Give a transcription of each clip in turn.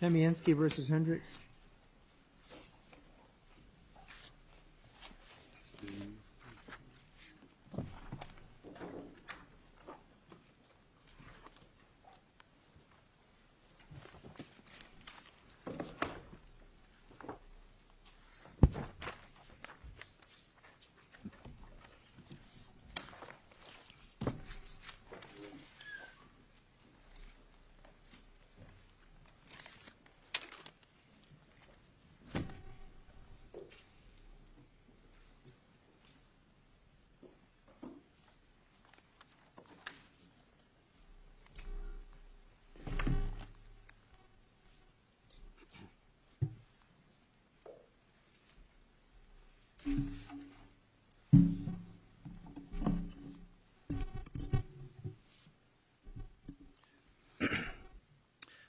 Kamienski vs. Hendricks Kamienskiv vs. Hendricks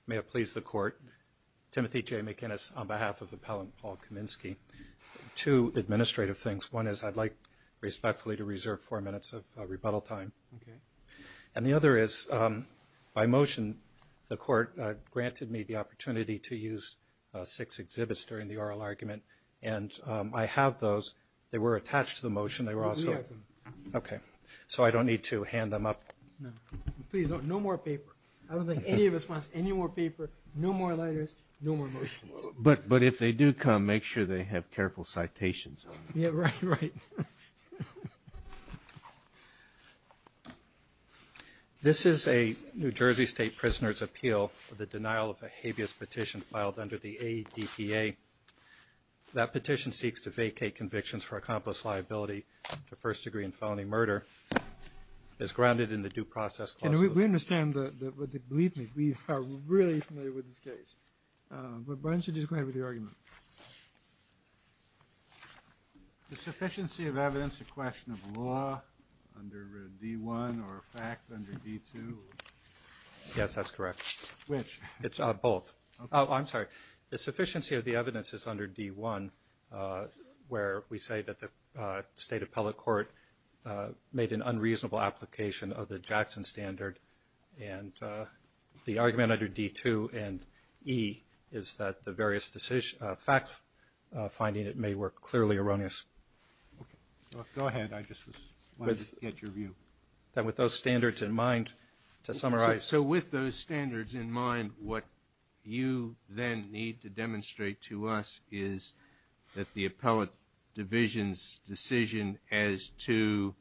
May it please the Court. Timothy J. McInnis on behalf of the appellant Paul Kamienski. Two administrative things. One is I'd like respectfully to reserve four minutes of rebuttal time. And the other is by motion the Court granted me the opportunity to use six exhibits during the oral argument. And I have those. They were attached to the motion. They were also. Okay. So I don't need to hand them up. No. Please don't. No more paper. I don't think any of us wants any more paper. No more letters. No more motions. But if they do come make sure they have careful citations on them. Yeah. Right. Right. This is a New Jersey State Prisoner's Appeal for the denial of a habeas petition filed under the ADPA. That petition seeks to vacate convictions for accomplice liability to first degree and felony murder. It's grounded in the due process clause. We understand that. But believe me we are really familiar with this case. But why don't you just go ahead with your argument. The sufficiency of evidence to question of law under D1 or a fact under D2. Yes that's correct. Which? It's both. I'm sorry. The sufficiency of the evidence is under D1 where we say that the State Appellate Court made an unreasonable application of the Jackson standard. And the argument under D2 and E is that the various decision facts finding it may work clearly erroneous. Go ahead. I just wanted to get your view. That with those standards in mind to summarize. So with those standards in mind what you then need to demonstrate to us is that the Appellate Division's decision as to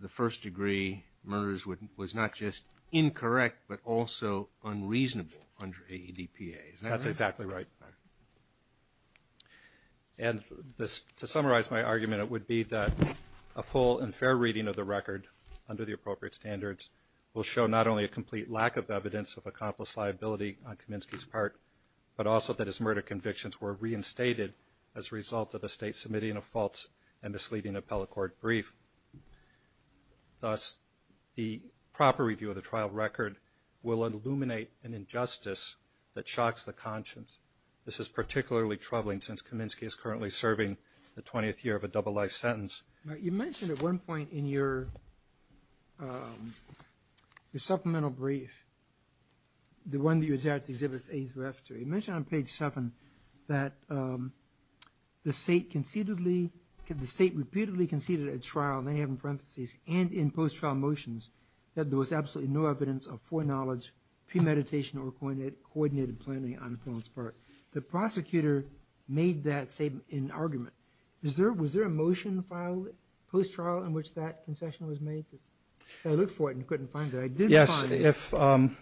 the first degree murders was not just incorrect but also unreasonable under ADPA. That's exactly right. And to summarize my argument it would be that a full and fair reading of the record under the appropriate standards will show not only a complete lack of evidence of accomplice liability on Kaminsky's part but also that his murder convictions were reinstated as a result of the State submitting a false and misleading Appellate Court brief. Thus the proper review of the trial record will illuminate an injustice that shocks the conscience. This is particularly troubling since Kaminsky is currently serving the 20th year of a double life sentence. You mentioned at one point in your supplemental brief the one that you exactly exhibit as a thrift. You mentioned on page 7 that the State concededly the State repeatedly conceded at trial and they have in parentheses and in post trial motions that there was absolutely no evidence of foreknowledge premeditation or coordinated planning on this. The prosecutor made that statement in argument. Was there a motion filed post trial in which that concession was made? I looked for it and couldn't find it. I did find it.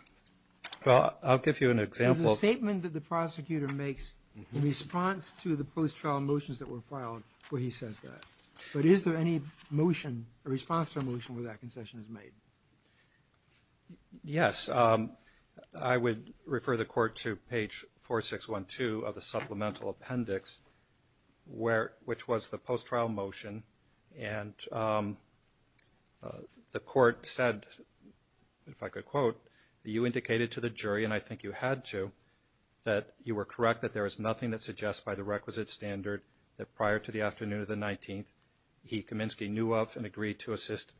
Well I'll give you an example. There's a statement that the prosecutor makes in response to the post trial motions that were filed where he says that. But is there any motion, a response to a motion where that concession is made? Yes. I would refer the Court to page 4612 of the supplemental brief. Of the supplemental appendix which was the post trial motion and the Court said, if I could quote, that you indicated to the jury, and I think you had to, that you were correct that there is nothing that suggests by the requisite standard that prior to the afternoon of the 19th he, Kaminsky, knew of and agreed to assist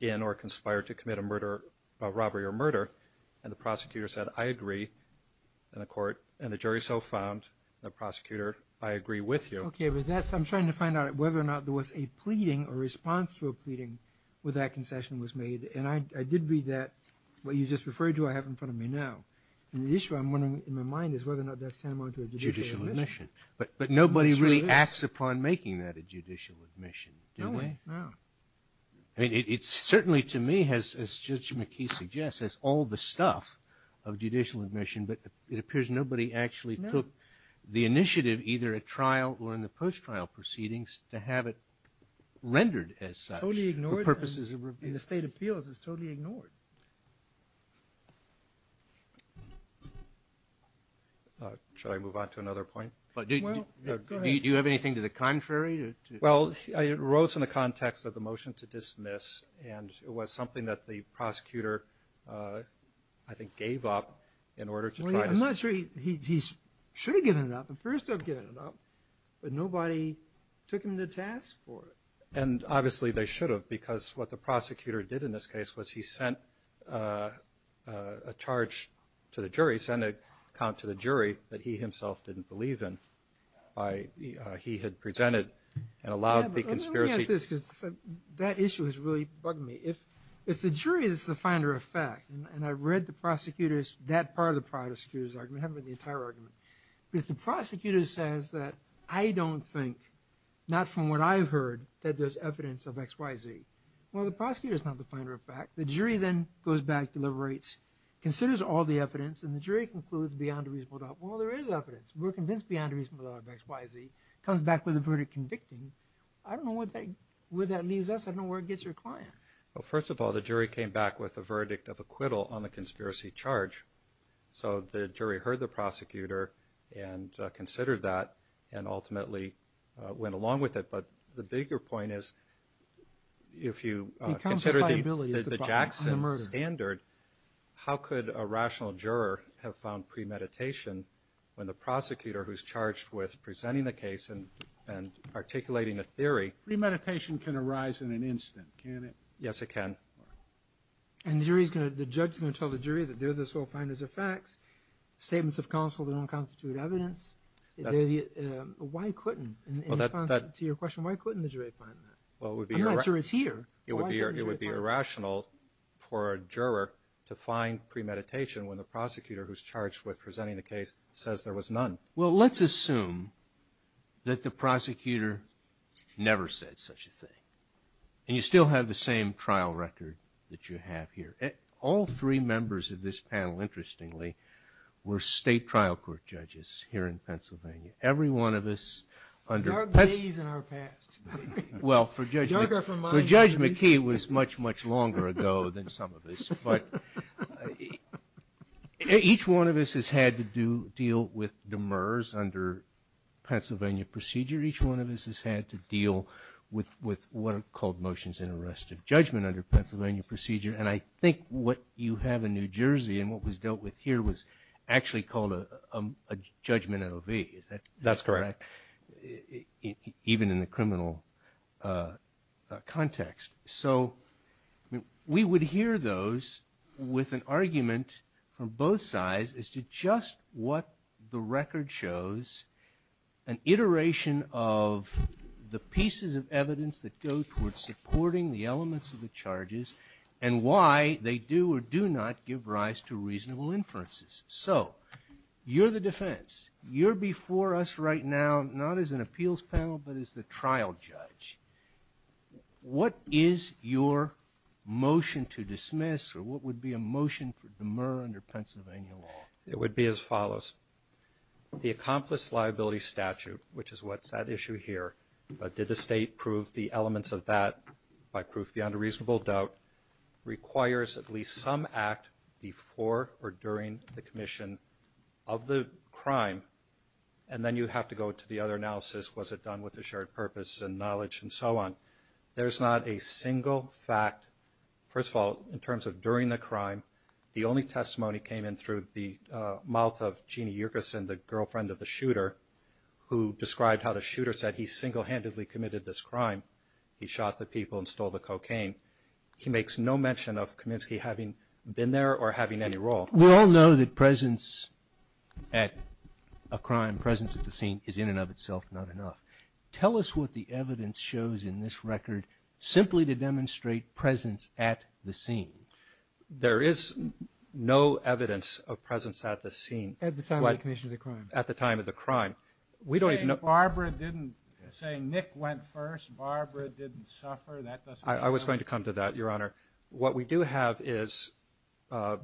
in or conspire to commit a murder, a robbery or murder. And the prosecutor said, I agree. And the Court and the jury so found. The prosecutor, I agree with you. Okay, but that's, I'm trying to find out whether or not there was a pleading or response to a pleading where that concession was made. And I did read that, what you just referred to, I have in front of me now. And the issue I'm wondering in my mind is whether or not that's tantamount to a judicial admission. But nobody really acts upon making that a judicial admission, do they? No. I mean, it's certainly to me, as Judge McKee suggests, it's all the stuff of judicial admission. But it appears nobody actually took the initiative, either at trial or in the post trial proceedings, to have it rendered as such. Totally ignored. For purposes of review. In the state appeals, it's totally ignored. Should I move on to another point? Do you have anything to the contrary? Well, it arose in the context of the motion to dismiss. And it was something that the prosecutor, I think, gave up in order to try to. Well, I'm not sure he should have given it up. The first to have given it up. But nobody took him to task for it. And obviously they should have. Because what the prosecutor did in this case was he sent a charge to the jury, sent an account to the jury that he himself didn't believe in. He had presented and allowed the conspiracy. That issue has really bugged me. If the jury is the finder of fact, and I've read the prosecutor's, that part of the prosecutor's argument, I haven't read the entire argument. But if the prosecutor says that I don't think, not from what I've heard, that there's evidence of X, Y, Z. Well, the prosecutor's not the finder of fact. The jury then goes back, deliberates, considers all the evidence, and the jury concludes beyond a reasonable doubt, well, there is evidence. We're convinced beyond a reasonable doubt of X, Y, Z. Comes back with a verdict convicting. I don't know where that leaves us. I don't know where it gets your client. Well, first of all, the jury came back with a verdict of acquittal on the conspiracy charge. So the jury heard the prosecutor and considered that and ultimately went along with it. But the bigger point is if you consider the Jackson standard, how could a rational juror have found premeditation when the prosecutor who's charged with presenting the case and articulating a theory. Premeditation can arise in an instant, can it? Yes, it can. And the judge is going to tell the jury that this will find as facts, statements of counsel that don't constitute evidence. Why couldn't, in response to your question, why couldn't the jury find that? I'm not sure it's here. It would be irrational for a juror to find premeditation when the prosecutor who's charged with presenting the case says there was none. Well, let's assume that the prosecutor never said such a thing. And you still have the same trial record that you have here. All three members of this panel, interestingly, were state trial court judges here in Pennsylvania. Every one of us under... Our days and our past. Well, for Judge McKee it was much, much longer ago than some of us. But each one of us has had to deal with demurs under Pennsylvania procedure. Each one of us has had to deal with what are called motions in arrest of judgment under Pennsylvania procedure. And I think what you have in New Jersey and what was dealt with here was actually called a judgment at OV. Is that correct? That's correct. Even in the criminal context. So we would hear those with an argument from both sides as to just what the record shows, an iteration of the pieces of evidence that go towards supporting the elements of the charges and why they do or do not give rise to reasonable inferences. So you're the defense. You're before us right now, not as an appeals panel, but as the trial judge. What is your motion to dismiss or what would be a motion for demur under Pennsylvania law? It would be as follows. The accomplished liability statute, which is what's at issue here, but did the state prove the elements of that by proof beyond a reasonable doubt, requires at least some act before or during the commission of the crime. And then you have to go to the other analysis. Was it done with a shared purpose and knowledge and so on? There's not a single fact. First of all, in terms of during the crime, the only testimony came in through the mouth of Jeannie Yerkes and the girlfriend of the shooter who described how the shooter said he single-handedly committed this crime. He shot the people and stole the cocaine. He makes no mention of Kaminsky having been there or having any role. We all know that presence at a crime, presence at the scene, is in and of itself not enough. Tell us what the evidence shows in this record simply to demonstrate presence at the scene. There is no evidence of presence at the scene. At the time of the commission of the crime. Say Nick went first, Barbara didn't suffer. I was going to come to that, Your Honor. What we do have is Donna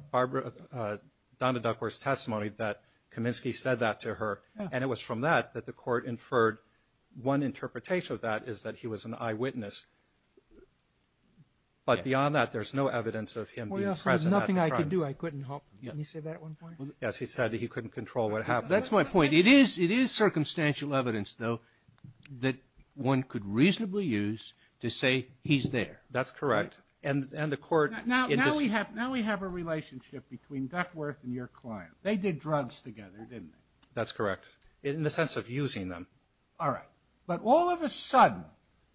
Duckworth's testimony that Kaminsky said that to her. And it was from that that the court inferred one interpretation of that is that he was an eyewitness. But beyond that, there's no evidence of him being present at the crime. Nothing I could do. He said he couldn't control what happened. It is circumstantial evidence, though, that one could reasonably use to say he's there. That's correct. Now we have a relationship between Duckworth and your client. They did drugs together, didn't they? That's correct. In the sense of using them. All right. But all of a sudden,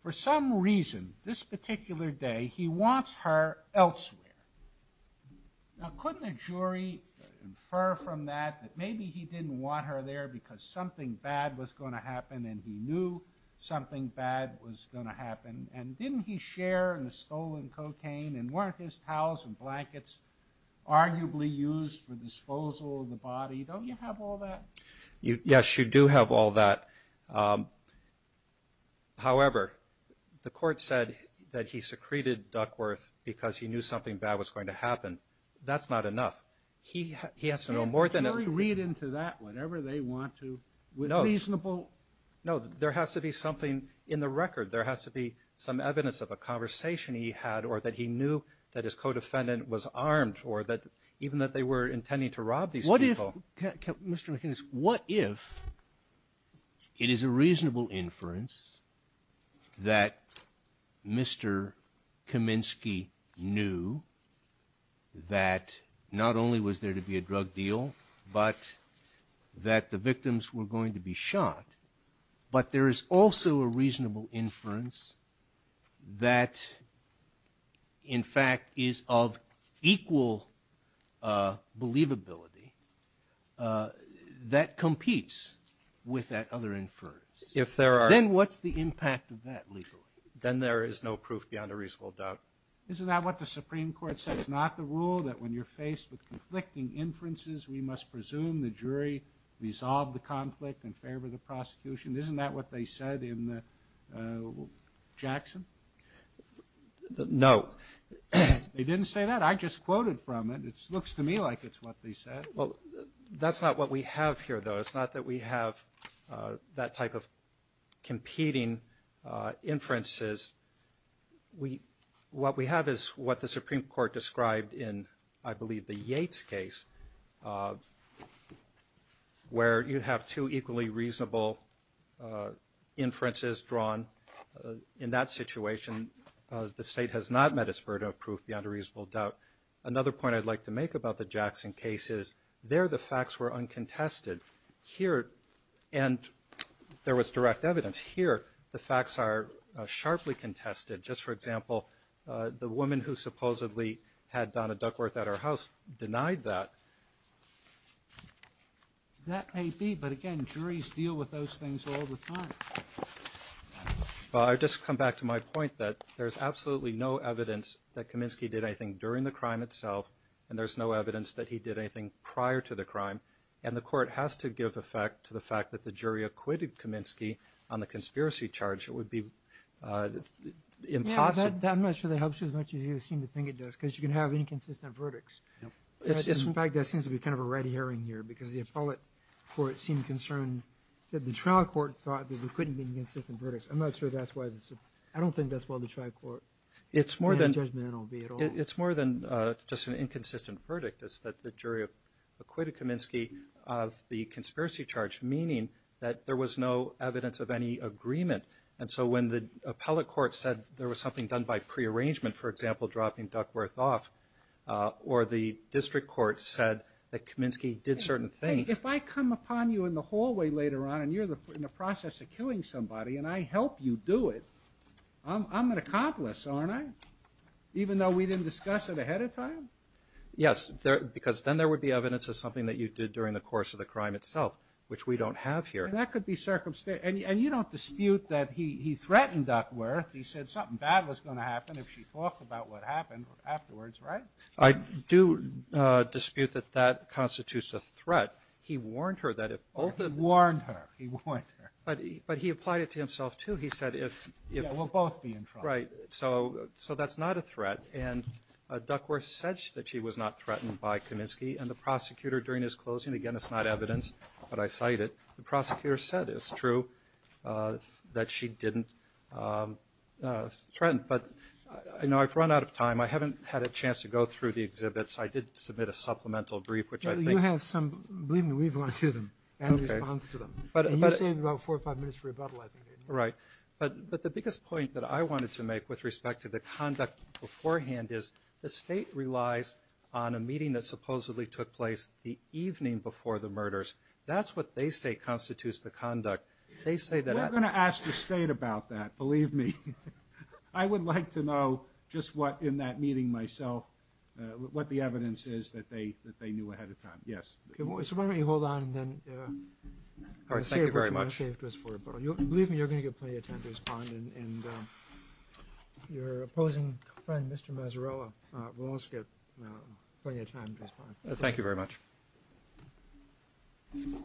for some reason, this particular day, he wants her elsewhere. Now, couldn't a jury infer from that that maybe he didn't want her there because something bad was going to happen and he knew something bad was going to happen? And didn't he share in the stolen cocaine? And weren't his towels and blankets arguably used for disposal of the body? Don't you have all that? Yes, you do have all that. However, the court said that he secreted Duckworth because he knew something bad was going to happen. That's not enough. He has to know more than that. Can a jury read into that whenever they want to with reasonable? No, there has to be something in the record. There has to be some evidence of a conversation he had or that he knew that his co-defendant was armed or even that they were intending to rob these people. What if, Mr. McInnis, what if it is a reasonable inference that Mr. Kaminsky knew that not only was there to be a drug deal but that the victims were going to be shot, but there is also a reasonable inference that, in fact, is of equal believability that competes with that other inference? Then what's the impact of that legally? Then there is no proof beyond a reasonable doubt. Isn't that what the Supreme Court said? It's not the rule that when you're faced with conflicting inferences, we must presume the jury resolved the conflict in favor of the prosecution? Isn't that what they said in Jackson? No. They didn't say that. I just quoted from it. It looks to me like it's what they said. Well, that's not what we have here, though. It's not that we have that type of competing inferences. What we have is what the Supreme Court described in, I believe, the Yates case, where you have two equally reasonable inferences drawn. In that situation, the State has not met its burden of proof beyond a reasonable doubt. Another point I'd like to make about the Jackson case is there the facts were uncontested. And there was direct evidence. Here the facts are sharply contested. Just for example, the woman who supposedly had Donna Duckworth at her house denied that. That may be. But, again, juries deal with those things all the time. I just come back to my point that there's absolutely no evidence that Kaminsky did anything during the crime itself, and there's no evidence that he did anything prior to the crime. And the court has to give effect to the fact that the jury acquitted Kaminsky on the conspiracy charge. It would be impossible. That much really helps as much as you seem to think it does, because you can have inconsistent verdicts. In fact, that seems to be kind of a red herring here, because the appellate court seemed concerned that the trial court thought that there couldn't be inconsistent verdicts. I'm not sure that's why this is. I don't think that's why the trial court made a judgment at all. It's more than just an inconsistent verdict. It's that the jury acquitted Kaminsky of the conspiracy charge, meaning that there was no evidence of any agreement. And so when the appellate court said there was something done by prearrangement, for example, dropping Duckworth off, or the district court said that Kaminsky did certain things. Hey, if I come upon you in the hallway later on and you're in the process of killing somebody and I help you do it, I'm an accomplice, aren't I, even though we didn't discuss it ahead of time? Yes, because then there would be evidence of something that you did during the course of the crime itself, which we don't have here. And that could be circumstantial. And you don't dispute that he threatened Duckworth. He said something bad was going to happen if she talked about what happened afterwards, right? I do dispute that that constitutes a threat. He warned her that if both of them. Warned her. He warned her. But he applied it to himself, too. He said if. Yeah, we'll both be in trouble. Right. So that's not a threat. And Duckworth said that she was not threatened by Kaminsky. And the prosecutor during his closing, again, it's not evidence, but I cite it. The prosecutor said it's true that she didn't threaten. But, you know, I've run out of time. I haven't had a chance to go through the exhibits. I did submit a supplemental brief, which I think. You have some. Believe me, we've gone through them in response to them. And you saved about four or five minutes for rebuttal, I think. Right. But the biggest point that I wanted to make with respect to the conduct beforehand is the State relies on a meeting that supposedly took place the evening before the murders. That's what they say constitutes the conduct. They say that. I'm going to ask the state about that. Believe me, I would like to know just what in that meeting myself, what the evidence is that they that they knew ahead of time. Yes. So why don't you hold on and then. All right. Thank you very much. Believe me, you're going to get plenty of time to respond. And your opposing friend, Mr. Mazzarella will also get plenty of time to respond. Thank you very much. Thank you.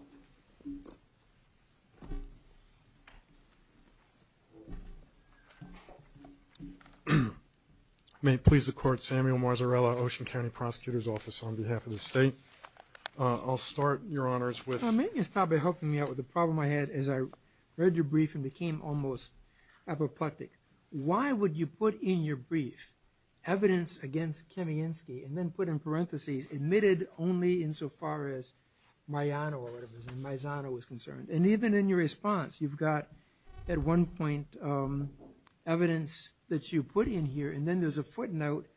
May it please the court, Samuel Mazzarella, Ocean County Prosecutor's Office, on behalf of the state. I'll start, Your Honors, with. May you stop helping me out with the problem I had as I read your brief and became almost apoplectic. Why would you put in your brief evidence against Kamiensky and then put in parentheses admitted only insofar as Maiano was concerned. And even in your response, you've got at one point evidence that you put in here. And then there's a footnote.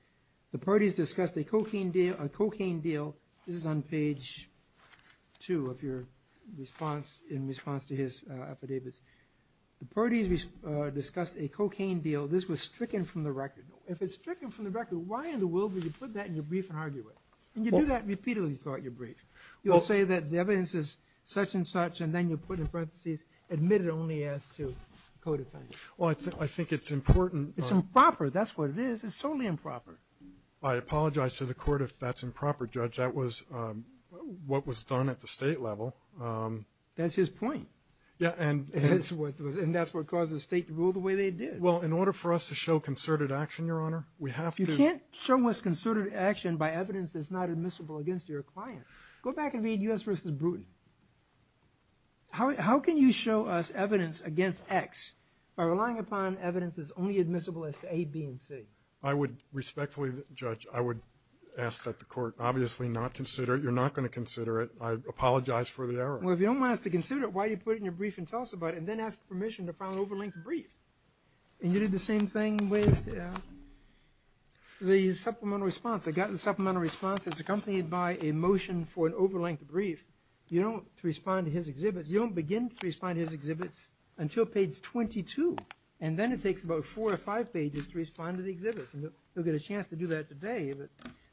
The parties discussed a cocaine deal. This is on page two of your response in response to his affidavits. The parties discussed a cocaine deal. This was stricken from the record. If it's stricken from the record, why in the world would you put that in your brief and argue it? And you do that repeatedly throughout your brief. You'll say that the evidence is such and such, and then you put in parentheses admitted only as to co-defendant. Well, I think it's important. It's improper. That's what it is. It's totally improper. I apologize to the court if that's improper, Judge. That was what was done at the state level. That's his point. And that's what caused the state to rule the way they did. Well, in order for us to show concerted action, Your Honor, we have to do – You can't show us concerted action by evidence that's not admissible against your client. Go back and read U.S. v. Bruton. How can you show us evidence against X by relying upon evidence that's only admissible as to A, B, and C? I would respectfully, Judge, I would ask that the court obviously not consider it. You're not going to consider it. I apologize for the error. Well, if you don't want us to consider it, why do you put it in your brief and tell us about it and then ask permission to file an over-length brief? And you did the same thing with the supplemental response. I got the supplemental response. It's accompanied by a motion for an over-length brief. You don't respond to his exhibits. You don't begin to respond to his exhibits until page 22, and then it takes about four or five pages to respond to the exhibits. You'll get a chance to do that today.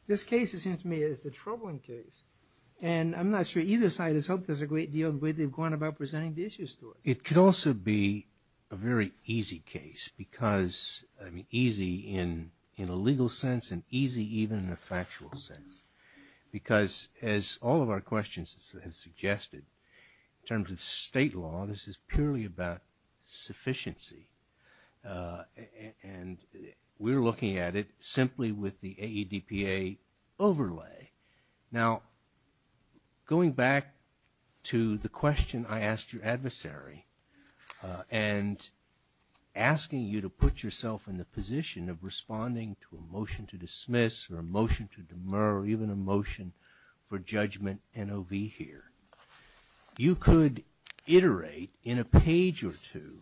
This case, it seems to me, is a troubling case, and I'm not sure either side has helped us a great deal in the way they've gone about presenting the issues to us. It could also be a very easy case because, I mean, easy in a legal sense and easy even in a factual sense because, as all of our questions have suggested, in terms of state law, this is purely about sufficiency, and we're looking at it simply with the AEDPA overlay. Now, going back to the question I asked your adversary and asking you to put yourself in the position of responding to a motion to dismiss or a motion to demur or even a motion for judgment NOV here, you could iterate in a page or two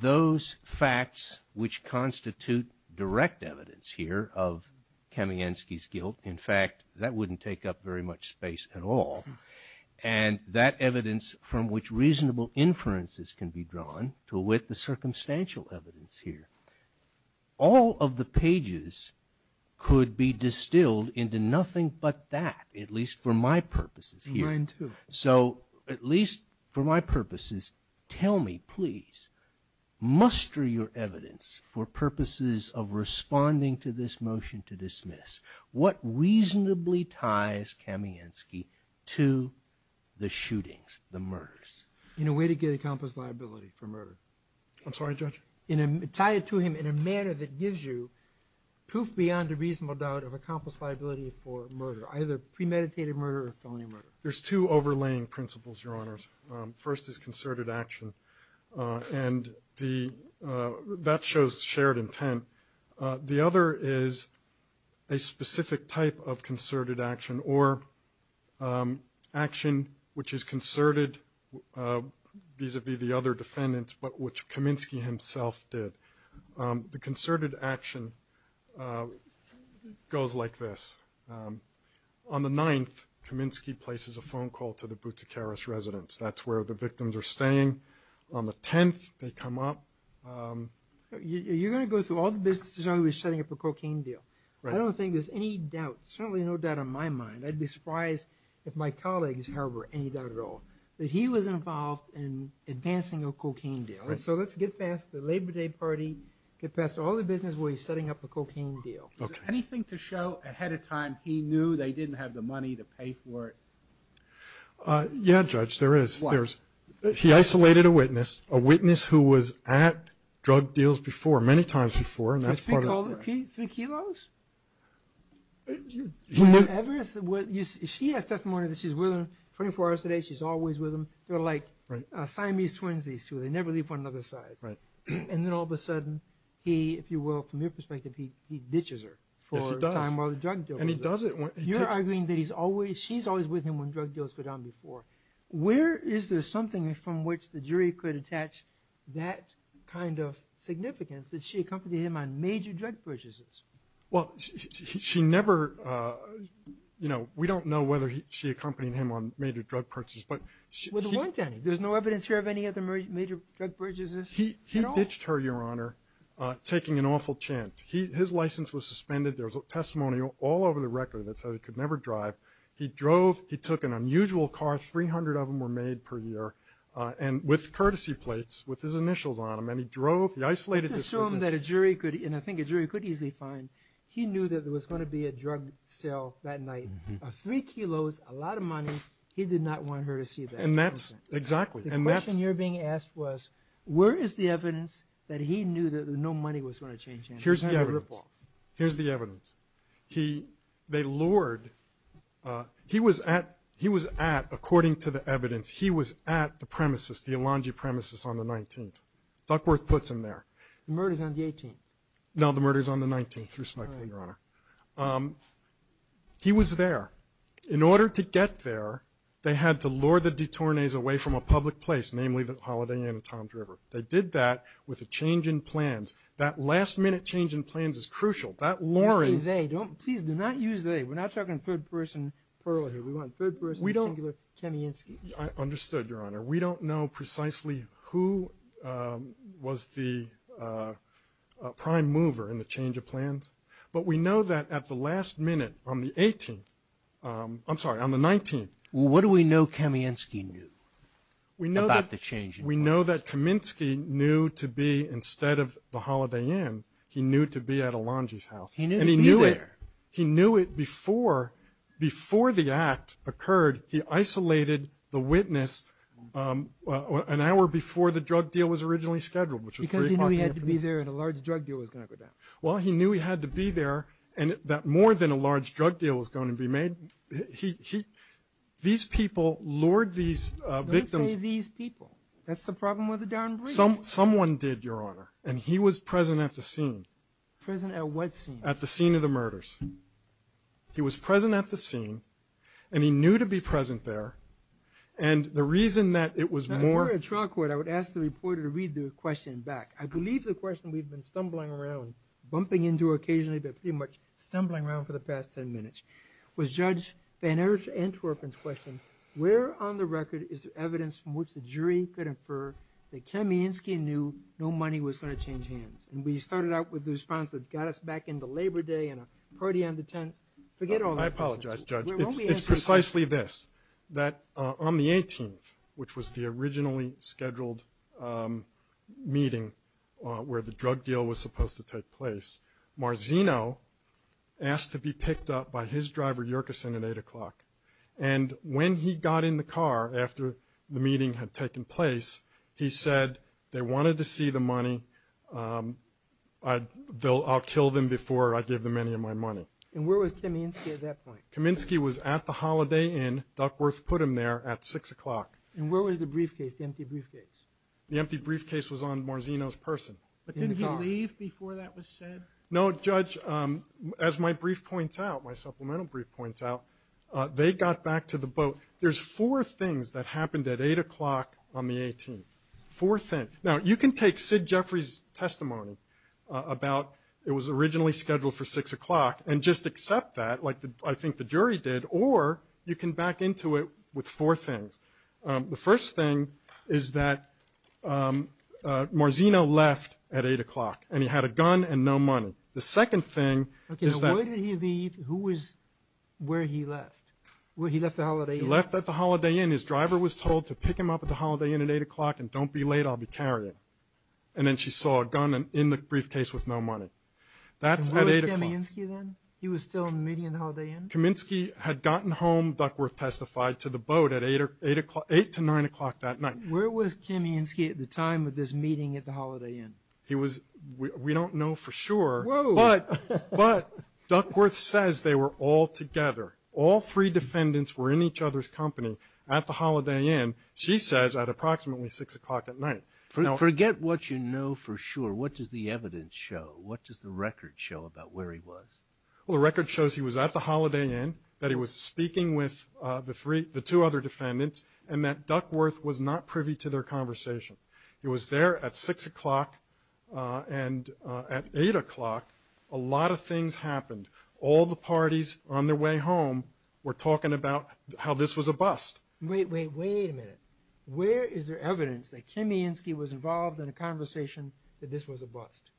those facts which constitute direct evidence here of Kamiansky's guilt. In fact, that wouldn't take up very much space at all. And that evidence from which reasonable inferences can be drawn to wit the circumstantial evidence here, all of the pages could be distilled into nothing but that, at least for my purposes here. Mine too. So at least for my purposes, tell me, please, muster your evidence for purposes of responding to this motion to dismiss. What reasonably ties Kamiansky to the shootings, the murders? In a way to get a compass liability for murder. I'm sorry, Judge? Tie it to him in a manner that gives you proof beyond a reasonable doubt of a compass liability for murder, either premeditated murder or felony murder. There's two overlaying principles, Your Honors. First is concerted action, and that shows shared intent. The other is a specific type of concerted action or action which is concerted vis-a-vis the other defendants, but which Kamiansky himself did. The concerted action goes like this. On the 9th, Kamiansky places a phone call to the Boutikaris residence. That's where the victims are staying. On the 10th, they come up. You're going to go through all the businesses where he was setting up a cocaine deal. I don't think there's any doubt, certainly no doubt in my mind, I'd be surprised if my colleagues harbor any doubt at all, that he was involved in advancing a cocaine deal. So let's get past the Labor Day party, get past all the businesses where he's setting up a cocaine deal. Is there anything to show ahead of time he knew they didn't have the money to pay for it? Yeah, Judge, there is. He isolated a witness, a witness who was at drug deals before, many times before. Three kilos? She has testimony that she's with him 24 hours a day. She's always with him. They're like Siamese twins, these two. They never leave one another's side. And then all of a sudden he, if you will, from your perspective, he ditches her for the time while the drug deal goes on. You're arguing that she's always with him when drug deals go down before. Where is there something from which the jury could attach that kind of significance, that she accompanied him on major drug purchases? Well, she never, you know, we don't know whether she accompanied him on major drug purchases. Well, there weren't any. There's no evidence here of any other major drug purchases at all? He ditched her, Your Honor, taking an awful chance. His license was suspended. There was testimony all over the record that said he could never drive. He drove. He took an unusual car. Three hundred of them were made per year with courtesy plates with his initials on them. And he drove. He isolated himself. Let's assume that a jury could, and I think a jury could easily find, he knew that there was going to be a drug sale that night of three kilos, a lot of money. He did not want her to see that. And that's, exactly. The question you're being asked was, where is the evidence that he knew that no money was going to change hands? Here's the evidence. Here's the evidence. He, they lured, he was at, he was at, according to the evidence, he was at the premises, the Elanji premises on the 19th. Duckworth puts him there. The murder's on the 18th. No, the murder's on the 19th, Your Honor. He was there. In order to get there, they had to lure the detournees away from a public place, namely the Holiday Inn and Tom's River. They did that with a change in plans. That last-minute change in plans is crucial. That luring. Don't say they. Please, do not use they. We're not talking third-person plural here. We want third-person singular Kamiansky. I understood, Your Honor. We don't know precisely who was the prime mover in the change of plans, but we know that at the last minute on the 18th, I'm sorry, on the 19th. Well, what do we know Kamiansky knew about the change in plans? We know that Kaminsky knew to be, instead of the Holiday Inn, he knew to be at Alonji's house. He knew to be there. He knew it before the act occurred. He isolated the witness an hour before the drug deal was originally scheduled. Because he knew he had to be there and a large drug deal was going to go down. Well, he knew he had to be there and that more than a large drug deal was going to be made. These people lured these victims. Don't say these people. That's the problem with the darn brief. Someone did, Your Honor. And he was present at the scene. Present at what scene? At the scene of the murders. He was present at the scene and he knew to be present there. And the reason that it was more... Now, if you were in trial court, I would ask the reporter to read the question back. I believe the question we've been stumbling around, bumping into occasionally, but pretty much stumbling around for the past ten minutes, was Judge Van Ersch-Antwerpen's question, where on the record is the evidence from which the jury could infer that Kamiansky knew no money was going to change hands. And we started out with the response that got us back into Labor Day and a party on the 10th. Forget all that. I apologize, Judge. It's precisely this, that on the 18th, which was the originally scheduled meeting where the drug deal was supposed to take place, Marzino asked to be picked up by his driver Yerkeson at 8 o'clock. And when he got in the car after the meeting had taken place, he said they wanted to see the money. I'll kill them before I give them any of my money. And where was Kamiansky at that point? Kamiansky was at the Holiday Inn. Duckworth put him there at 6 o'clock. And where was the briefcase, the empty briefcase? The empty briefcase was on Marzino's person. But didn't he leave before that was said? No, Judge, as my brief points out, my supplemental brief points out, they got back to the boat. There's four things that happened at 8 o'clock on the 18th. Four things. Now, you can take Sid Jeffrey's testimony about it was originally scheduled for 6 o'clock and just accept that, like I think the jury did, or you can back into it with four things. The first thing is that Marzino left at 8 o'clock, and he had a gun and no money. The second thing is that – Okay, so where did he leave? Who was – where he left? He left at the Holiday Inn. He left at the Holiday Inn. His driver was told to pick him up at the Holiday Inn at 8 o'clock and don't be late, I'll be carrying. And then she saw a gun in the briefcase with no money. And where was Kamiansky then? He was still meeting at the Holiday Inn? Kamiansky had gotten home, Duckworth testified, to the boat at 8 to 9 o'clock that night. Where was Kamiansky at the time of this meeting at the Holiday Inn? He was – we don't know for sure. Whoa. But Duckworth says they were all together. All three defendants were in each other's company at the Holiday Inn, she says, at approximately 6 o'clock at night. Forget what you know for sure. What does the evidence show? What does the record show about where he was? Well, the record shows he was at the Holiday Inn, that he was speaking with the two other defendants, and that Duckworth was not privy to their conversation. He was there at 6 o'clock and at 8 o'clock a lot of things happened. All the parties on their way home were talking about how this was a bust. Wait, wait, wait a minute. Where is there evidence that Kamiansky was involved in a conversation that this was a bust?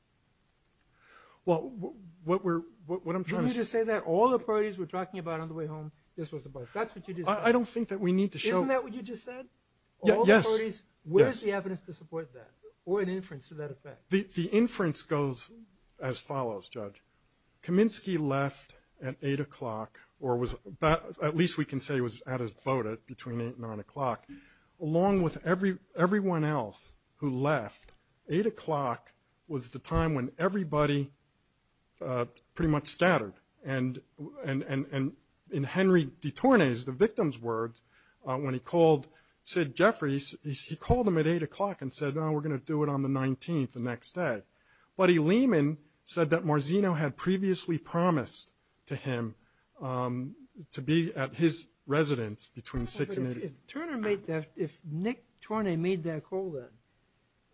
Well, what we're – what I'm trying to say – You mean to say that all the parties were talking about on the way home this was a bust? That's what you just said. I don't think that we need to show – Isn't that what you just said? Yes. All the parties? Yes. Where is the evidence to support that or an inference to that effect? The inference goes as follows, Judge. Kamiansky left at 8 o'clock or was – at least we can say he was at his boat between 8 and 9 o'clock. Along with everyone else who left, 8 o'clock was the time when everybody pretty much stuttered. In Henry de Tourne's, the victim's words, when he called Sid Jeffries, he called him at 8 o'clock and said, we're going to do it on the 19th, the next day. Buddy Lehman said that Marzino had previously promised to him to be at his residence between 6 and 8. If Nick Tourne made that call then,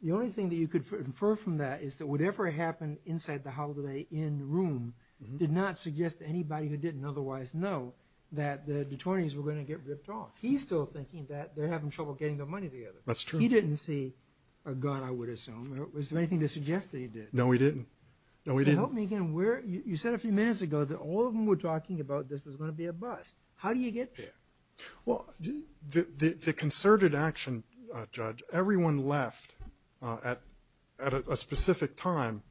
the only thing that you could infer from that is that whatever happened inside the holiday inn room did not suggest to anybody who didn't otherwise know that the de Tourne's were going to get ripped off. He's still thinking that they're having trouble getting their money together. That's true. He didn't see a gun, I would assume. Was there anything to suggest that he did? No, he didn't. No, he didn't. So help me again. You said a few minutes ago that all of them were talking about this was going to be a bust. How do you get there? Well, the concerted action, Judge, everyone left at a specific time.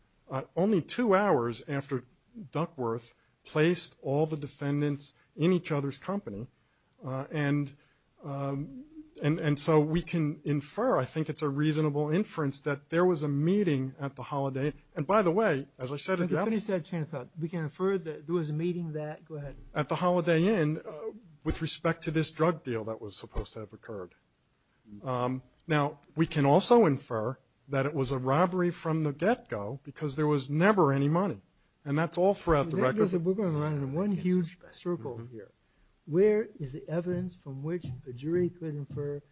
Only two hours after Duckworth placed all the defendants in each other's company. And so we can infer, I think it's a reasonable inference, that there was a meeting at the holiday inn. And by the way, as I said at the outset. Let me finish that chain of thought. We can infer that there was a meeting that, go ahead. At the holiday inn with respect to this drug deal that was supposed to have occurred. Now, we can also infer that it was a robbery from the get-go because there was never any money. And that's all throughout the record. We're going around in one huge circle here. Where is the evidence from which a jury could infer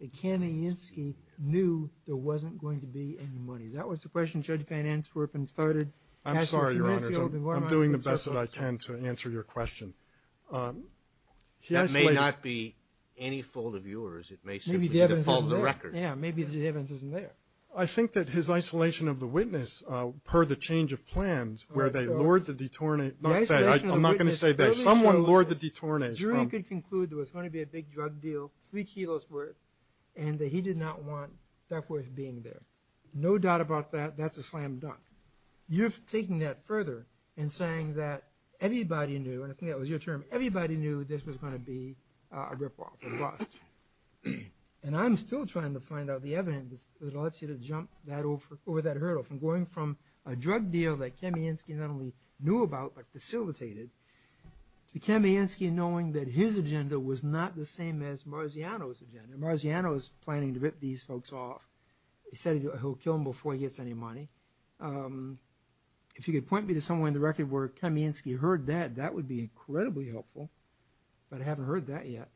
that Kamianetsky knew there wasn't going to be any money? That was the question Judge Van Answerpen started. I'm sorry, Your Honors. I'm doing the best that I can to answer your question. That may not be any fault of yours. It may simply be the fault of the record. Yeah, maybe the evidence isn't there. I think that his isolation of the witness, per the change of plans, where they lured the detournees. I'm not going to say they. Someone lured the detournees. The jury could conclude there was going to be a big drug deal, three kilos worth, and that he did not want Duckworth being there. No doubt about that, that's a slam dunk. You're taking that further and saying that everybody knew, and I think that was your term, everybody knew this was going to be a rip-off, a bust. I'm still trying to find out the evidence that allows you to jump over that hurdle, from going from a drug deal that Kamianetsky not only knew about but facilitated, to Kamianetsky knowing that his agenda was not the same as Marziano's agenda. Marziano was planning to rip these folks off. He said he'll kill them before he gets any money. If you could point me to somewhere in the record where Kamianetsky heard that, that would be incredibly helpful, but I haven't heard that yet.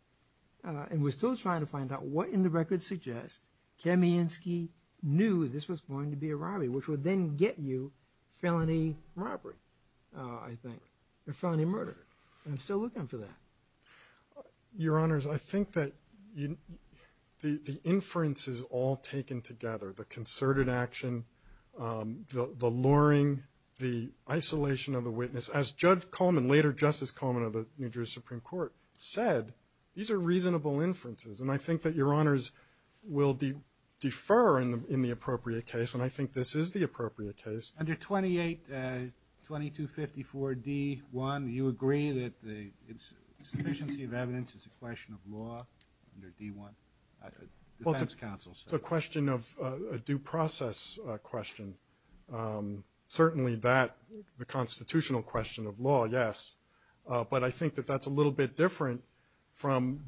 And we're still trying to find out what in the record suggests Kamianetsky knew this was going to be a robbery, which would then get you felony robbery, I think, or felony murder. I'm still looking for that. Your Honors, I think that the inferences all taken together, the concerted action, the luring, the isolation of the witness, as Judge Coleman, later Justice Coleman of the New Jersey Supreme Court, said, these are reasonable inferences. And I think that Your Honors will defer in the appropriate case, and I think this is the appropriate case. Under 28-2254-D-1, do you agree that the sufficiency of evidence is a question of law under D-1, defense counsel said? Well, it's a question of a due process question. Certainly that, the constitutional question of law, yes. But I think that that's a little bit different from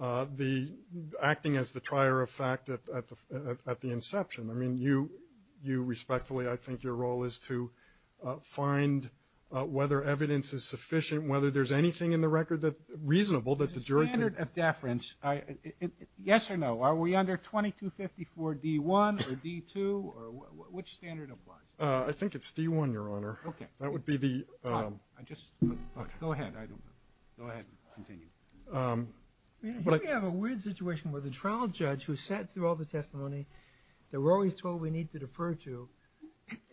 acting as the trier of fact at the inception. I mean, you respectfully, I think your role is to find whether evidence is sufficient, whether there's anything in the record that's reasonable that the jury can ---- The standard of deference, yes or no, are we under 22-254-D-1 or D-2, or which standard applies? I think it's D-1, Your Honor. Okay. That would be the ---- Go ahead, I don't know. Go ahead, continue. We have a weird situation where the trial judge who sat through all the testimony that we're always told we need to defer to,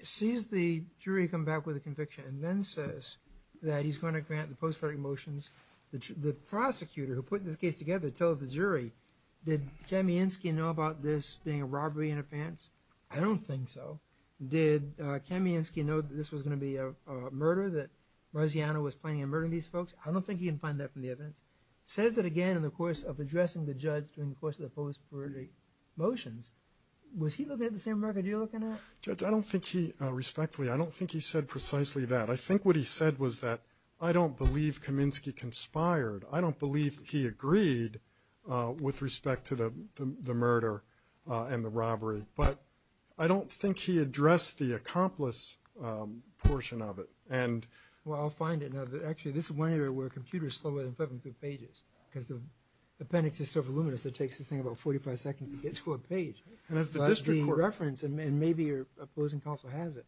sees the jury come back with a conviction and then says that he's going to grant the post-verdict motions. The prosecutor who put this case together tells the jury, did Kamiansky know about this being a robbery in a pants? I don't think so. Did Kamiansky know that this was going to be a murder, that Marziano was planning on murdering these folks? I don't think he can find that from the evidence. Says it again in the course of addressing the judge during the course of the post-verdict motions. Was he looking at the same record you're looking at? Judge, I don't think he, respectfully, I don't think he said precisely that. I think what he said was that, I don't believe Kamiansky conspired. I don't believe he agreed with respect to the murder and the robbery. But I don't think he addressed the accomplice portion of it. Well, I'll find it. Actually, this is one area where computers slow in flipping through pages because the appendix is so voluminous it takes this thing about 45 seconds to get to a page. And maybe your opposing counsel has it.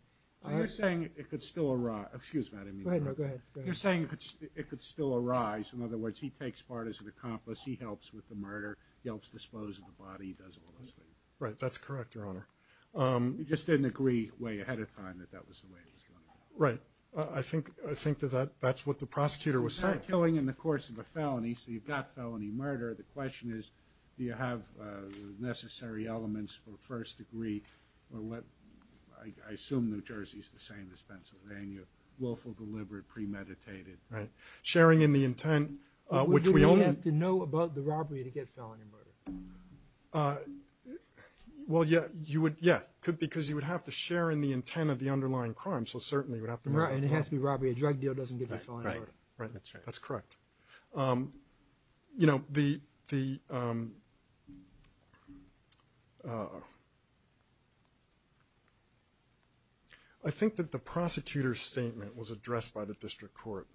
You're saying it could still arise. Excuse me. Go ahead. You're saying it could still arise. In other words, he takes part as an accomplice. He helps with the murder. He helps dispose of the body. He does all those things. Right. That's correct, Your Honor. You just didn't agree way ahead of time that that was the way it was going to go. Right. I think that that's what the prosecutor was saying. It's not killing in the course of a felony, so you've got felony murder. The question is do you have the necessary elements for first degree I assume New Jersey is the same as Pennsylvania. Willful, deliberate, premeditated. Right. Sharing in the intent, which we only Would you have to know about the robbery to get felony murder? Well, yeah. Because you would have to share in the intent of the underlying crime, so certainly you would have to know. Right. And it has to be robbery. A drug deal doesn't give you felony murder. Right. That's correct. You know, the I think that the prosecutor's statement was addressed by the district court,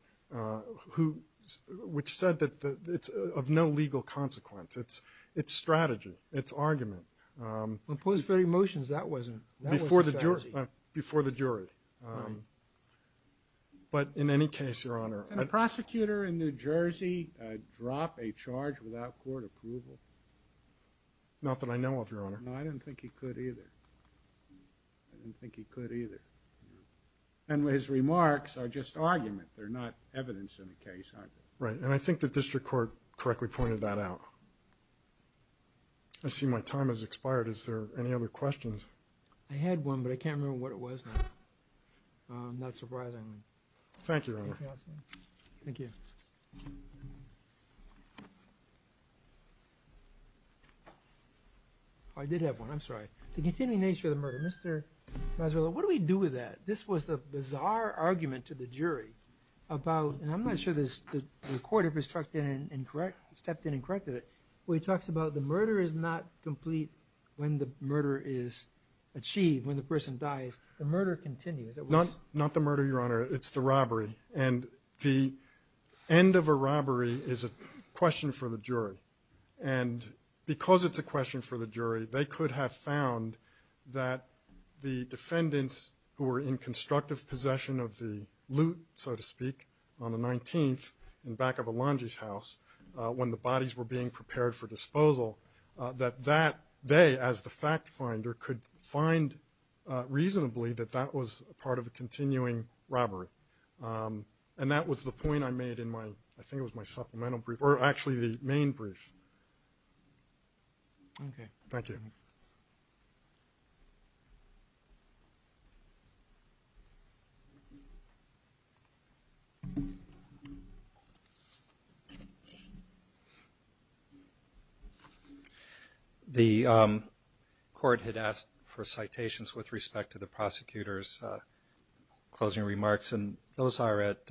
which said that it's of no legal consequence. It's strategy. It's argument. When it was very motions, that wasn't strategy. Right. But in any case, Your Honor. Can a prosecutor in New Jersey drop a charge without court approval? Not that I know of, Your Honor. No, I didn't think he could either. I didn't think he could either. And his remarks are just argument. They're not evidence in the case, are they? Right. And I think the district court correctly pointed that out. I see my time has expired. Is there any other questions? Not surprisingly. Thank you, Your Honor. Thank you. I did have one. I'm sorry. The continuing nature of the murder. Mr. Mazzarella, what do we do with that? This was the bizarre argument to the jury about, and I'm not sure the court ever stepped in and corrected it, where he talks about the murder is not complete when the murder is achieved, when the person dies. The murder continues. Not the murder, Your Honor. It's the robbery. And the end of a robbery is a question for the jury. And because it's a question for the jury, they could have found that the defendants who were in constructive possession of the loot, so to speak, on the 19th, in back of Alonji's house, when the bodies were being prepared for disposal, that they, as the fact finder, could find reasonably that that was part of a continuing robbery. And that was the point I made in my, I think it was my supplemental brief, or actually the main brief. Okay. Thank you. Thank you. The court had asked for citations with respect to the prosecutor's closing remarks, and those are at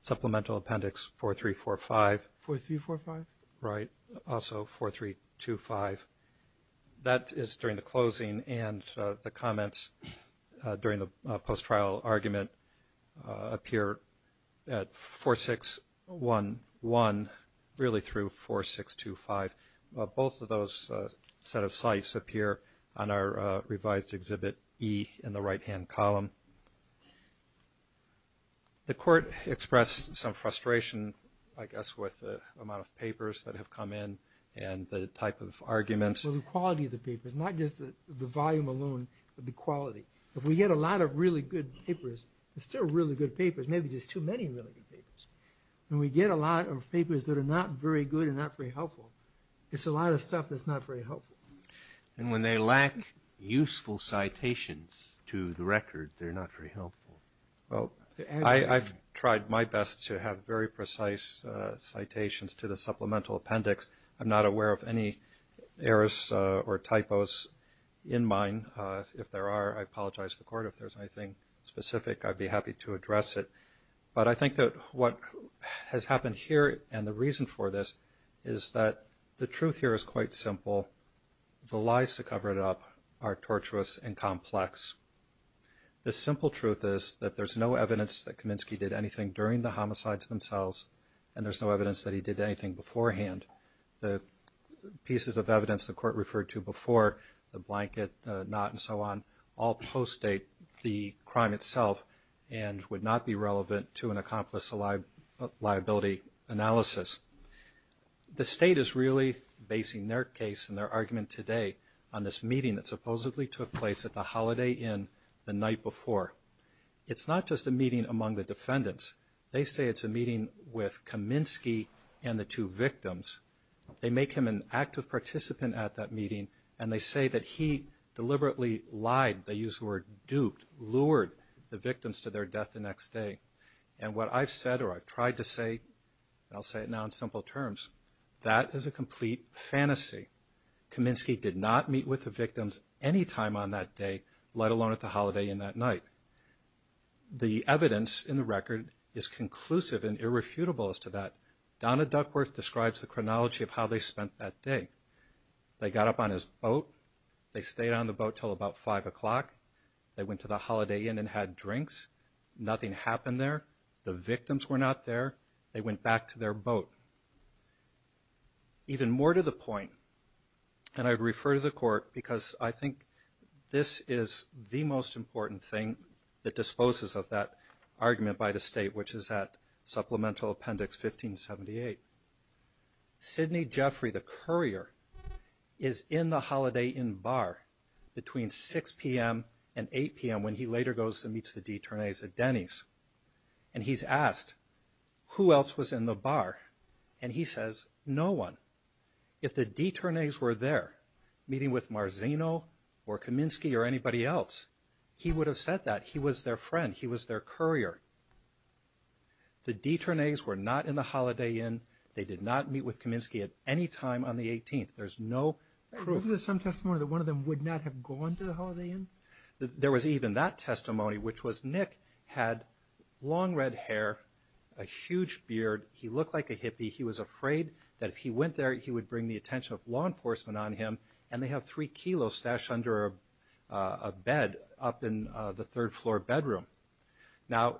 supplemental appendix 4345. 4345? Right. Also 4325. That is during the closing, and the comments during the post-trial argument appear at 4611, really through 4625. Both of those set of sites appear on our revised exhibit E in the right-hand column. The court expressed some frustration, I guess, with the amount of papers that have come in and the type of arguments. Well, the quality of the papers, not just the volume alone, but the quality. If we get a lot of really good papers, there's still really good papers, maybe just too many really good papers. When we get a lot of papers that are not very good and not very helpful, it's a lot of stuff that's not very helpful. And when they lack useful citations to the record, they're not very helpful. I've tried my best to have very precise citations to the supplemental appendix. I'm not aware of any errors or typos in mine. If there are, I apologize to the court. If there's anything specific, I'd be happy to address it. But I think that what has happened here and the reason for this is that the truth here is quite simple. The lies to cover it up are tortuous and complex. The simple truth is that there's no evidence that Kaminsky did anything during the homicides themselves, and there's no evidence that he did anything beforehand. The pieces of evidence the court referred to before, the blanket, the knot and so on, all post-date the crime itself and would not be relevant to an accomplice liability analysis. The state is really basing their case and their argument today on this meeting that supposedly took place at the Holiday Inn the night before. It's not just a meeting among the defendants. They say it's a meeting with Kaminsky and the two victims. They make him an active participant at that meeting, and they say that he deliberately lied, they use the word duped, lured the victims to their death the next day. And what I've said or I've tried to say, and I'll say it now in simple terms, that is a complete fantasy. Kaminsky did not meet with the victims any time on that day, let alone at the Holiday Inn that night. The evidence in the record is conclusive and irrefutable as to that. Donna Duckworth describes the chronology of how they spent that day. They got up on his boat. They stayed on the boat until about 5 o'clock. They went to the Holiday Inn and had drinks. Nothing happened there. The victims were not there. They went back to their boat. Even more to the point, and I refer to the court because I think this is the most important thing that disposes of that argument by the state, which is at Supplemental Appendix 1578. Sidney Jeffrey, the courier, is in the Holiday Inn bar between 6 p.m. and 8 p.m. when he later goes and meets the detournees at Denny's. And he's asked, who else was in the bar? And he says, no one. If the detournees were there meeting with Marzino or Kaminsky or anybody else, he would have said that. He was their friend. He was their courier. The detournees were not in the Holiday Inn. They did not meet with Kaminsky at any time on the 18th. There's no proof. Isn't there some testimony that one of them would not have gone to the Holiday Inn? There was even that testimony, which was Nick had long red hair, a huge beard. He looked like a hippie. He was afraid that if he went there, he would bring the attention of law enforcement on him. And they have three kilos stashed under a bed up in the third-floor bedroom. Now,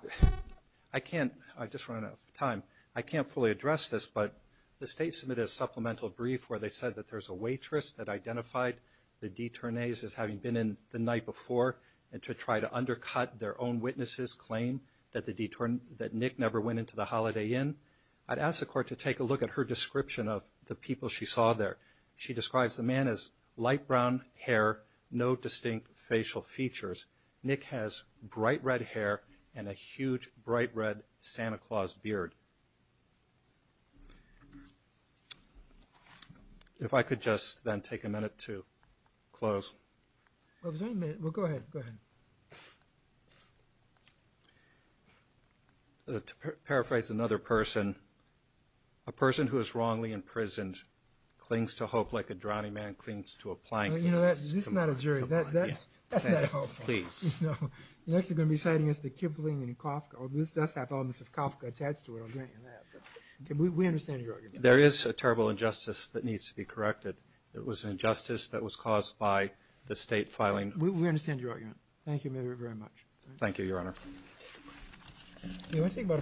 I can't – I just ran out of time. I can't fully address this, but the state submitted a supplemental brief where they said that there's a waitress that identified the detournees as having been in the night before and to try to undercut their own witnesses' claim that Nick never went into the Holiday Inn. I'd ask the court to take a look at her description of the people she saw there. She describes the man as light brown hair, no distinct facial features. Nick has bright red hair and a huge, bright red Santa Claus beard. If I could just then take a minute to close. Well, go ahead. Go ahead. To paraphrase another person, a person who is wrongly imprisoned clings to hope like a drowning man clings to a plank. Well, you know, this is not a jury. That's not helpful. You're actually going to be citing as the Kipling in Kafka. This does have elements of Kafka attached to it. We understand your argument. There is a terrible injustice that needs to be corrected. It was an injustice that was caused by the state filing. We understand your argument. Thank you very much. Thank you, Your Honor. Do you want to take about a five-minute break?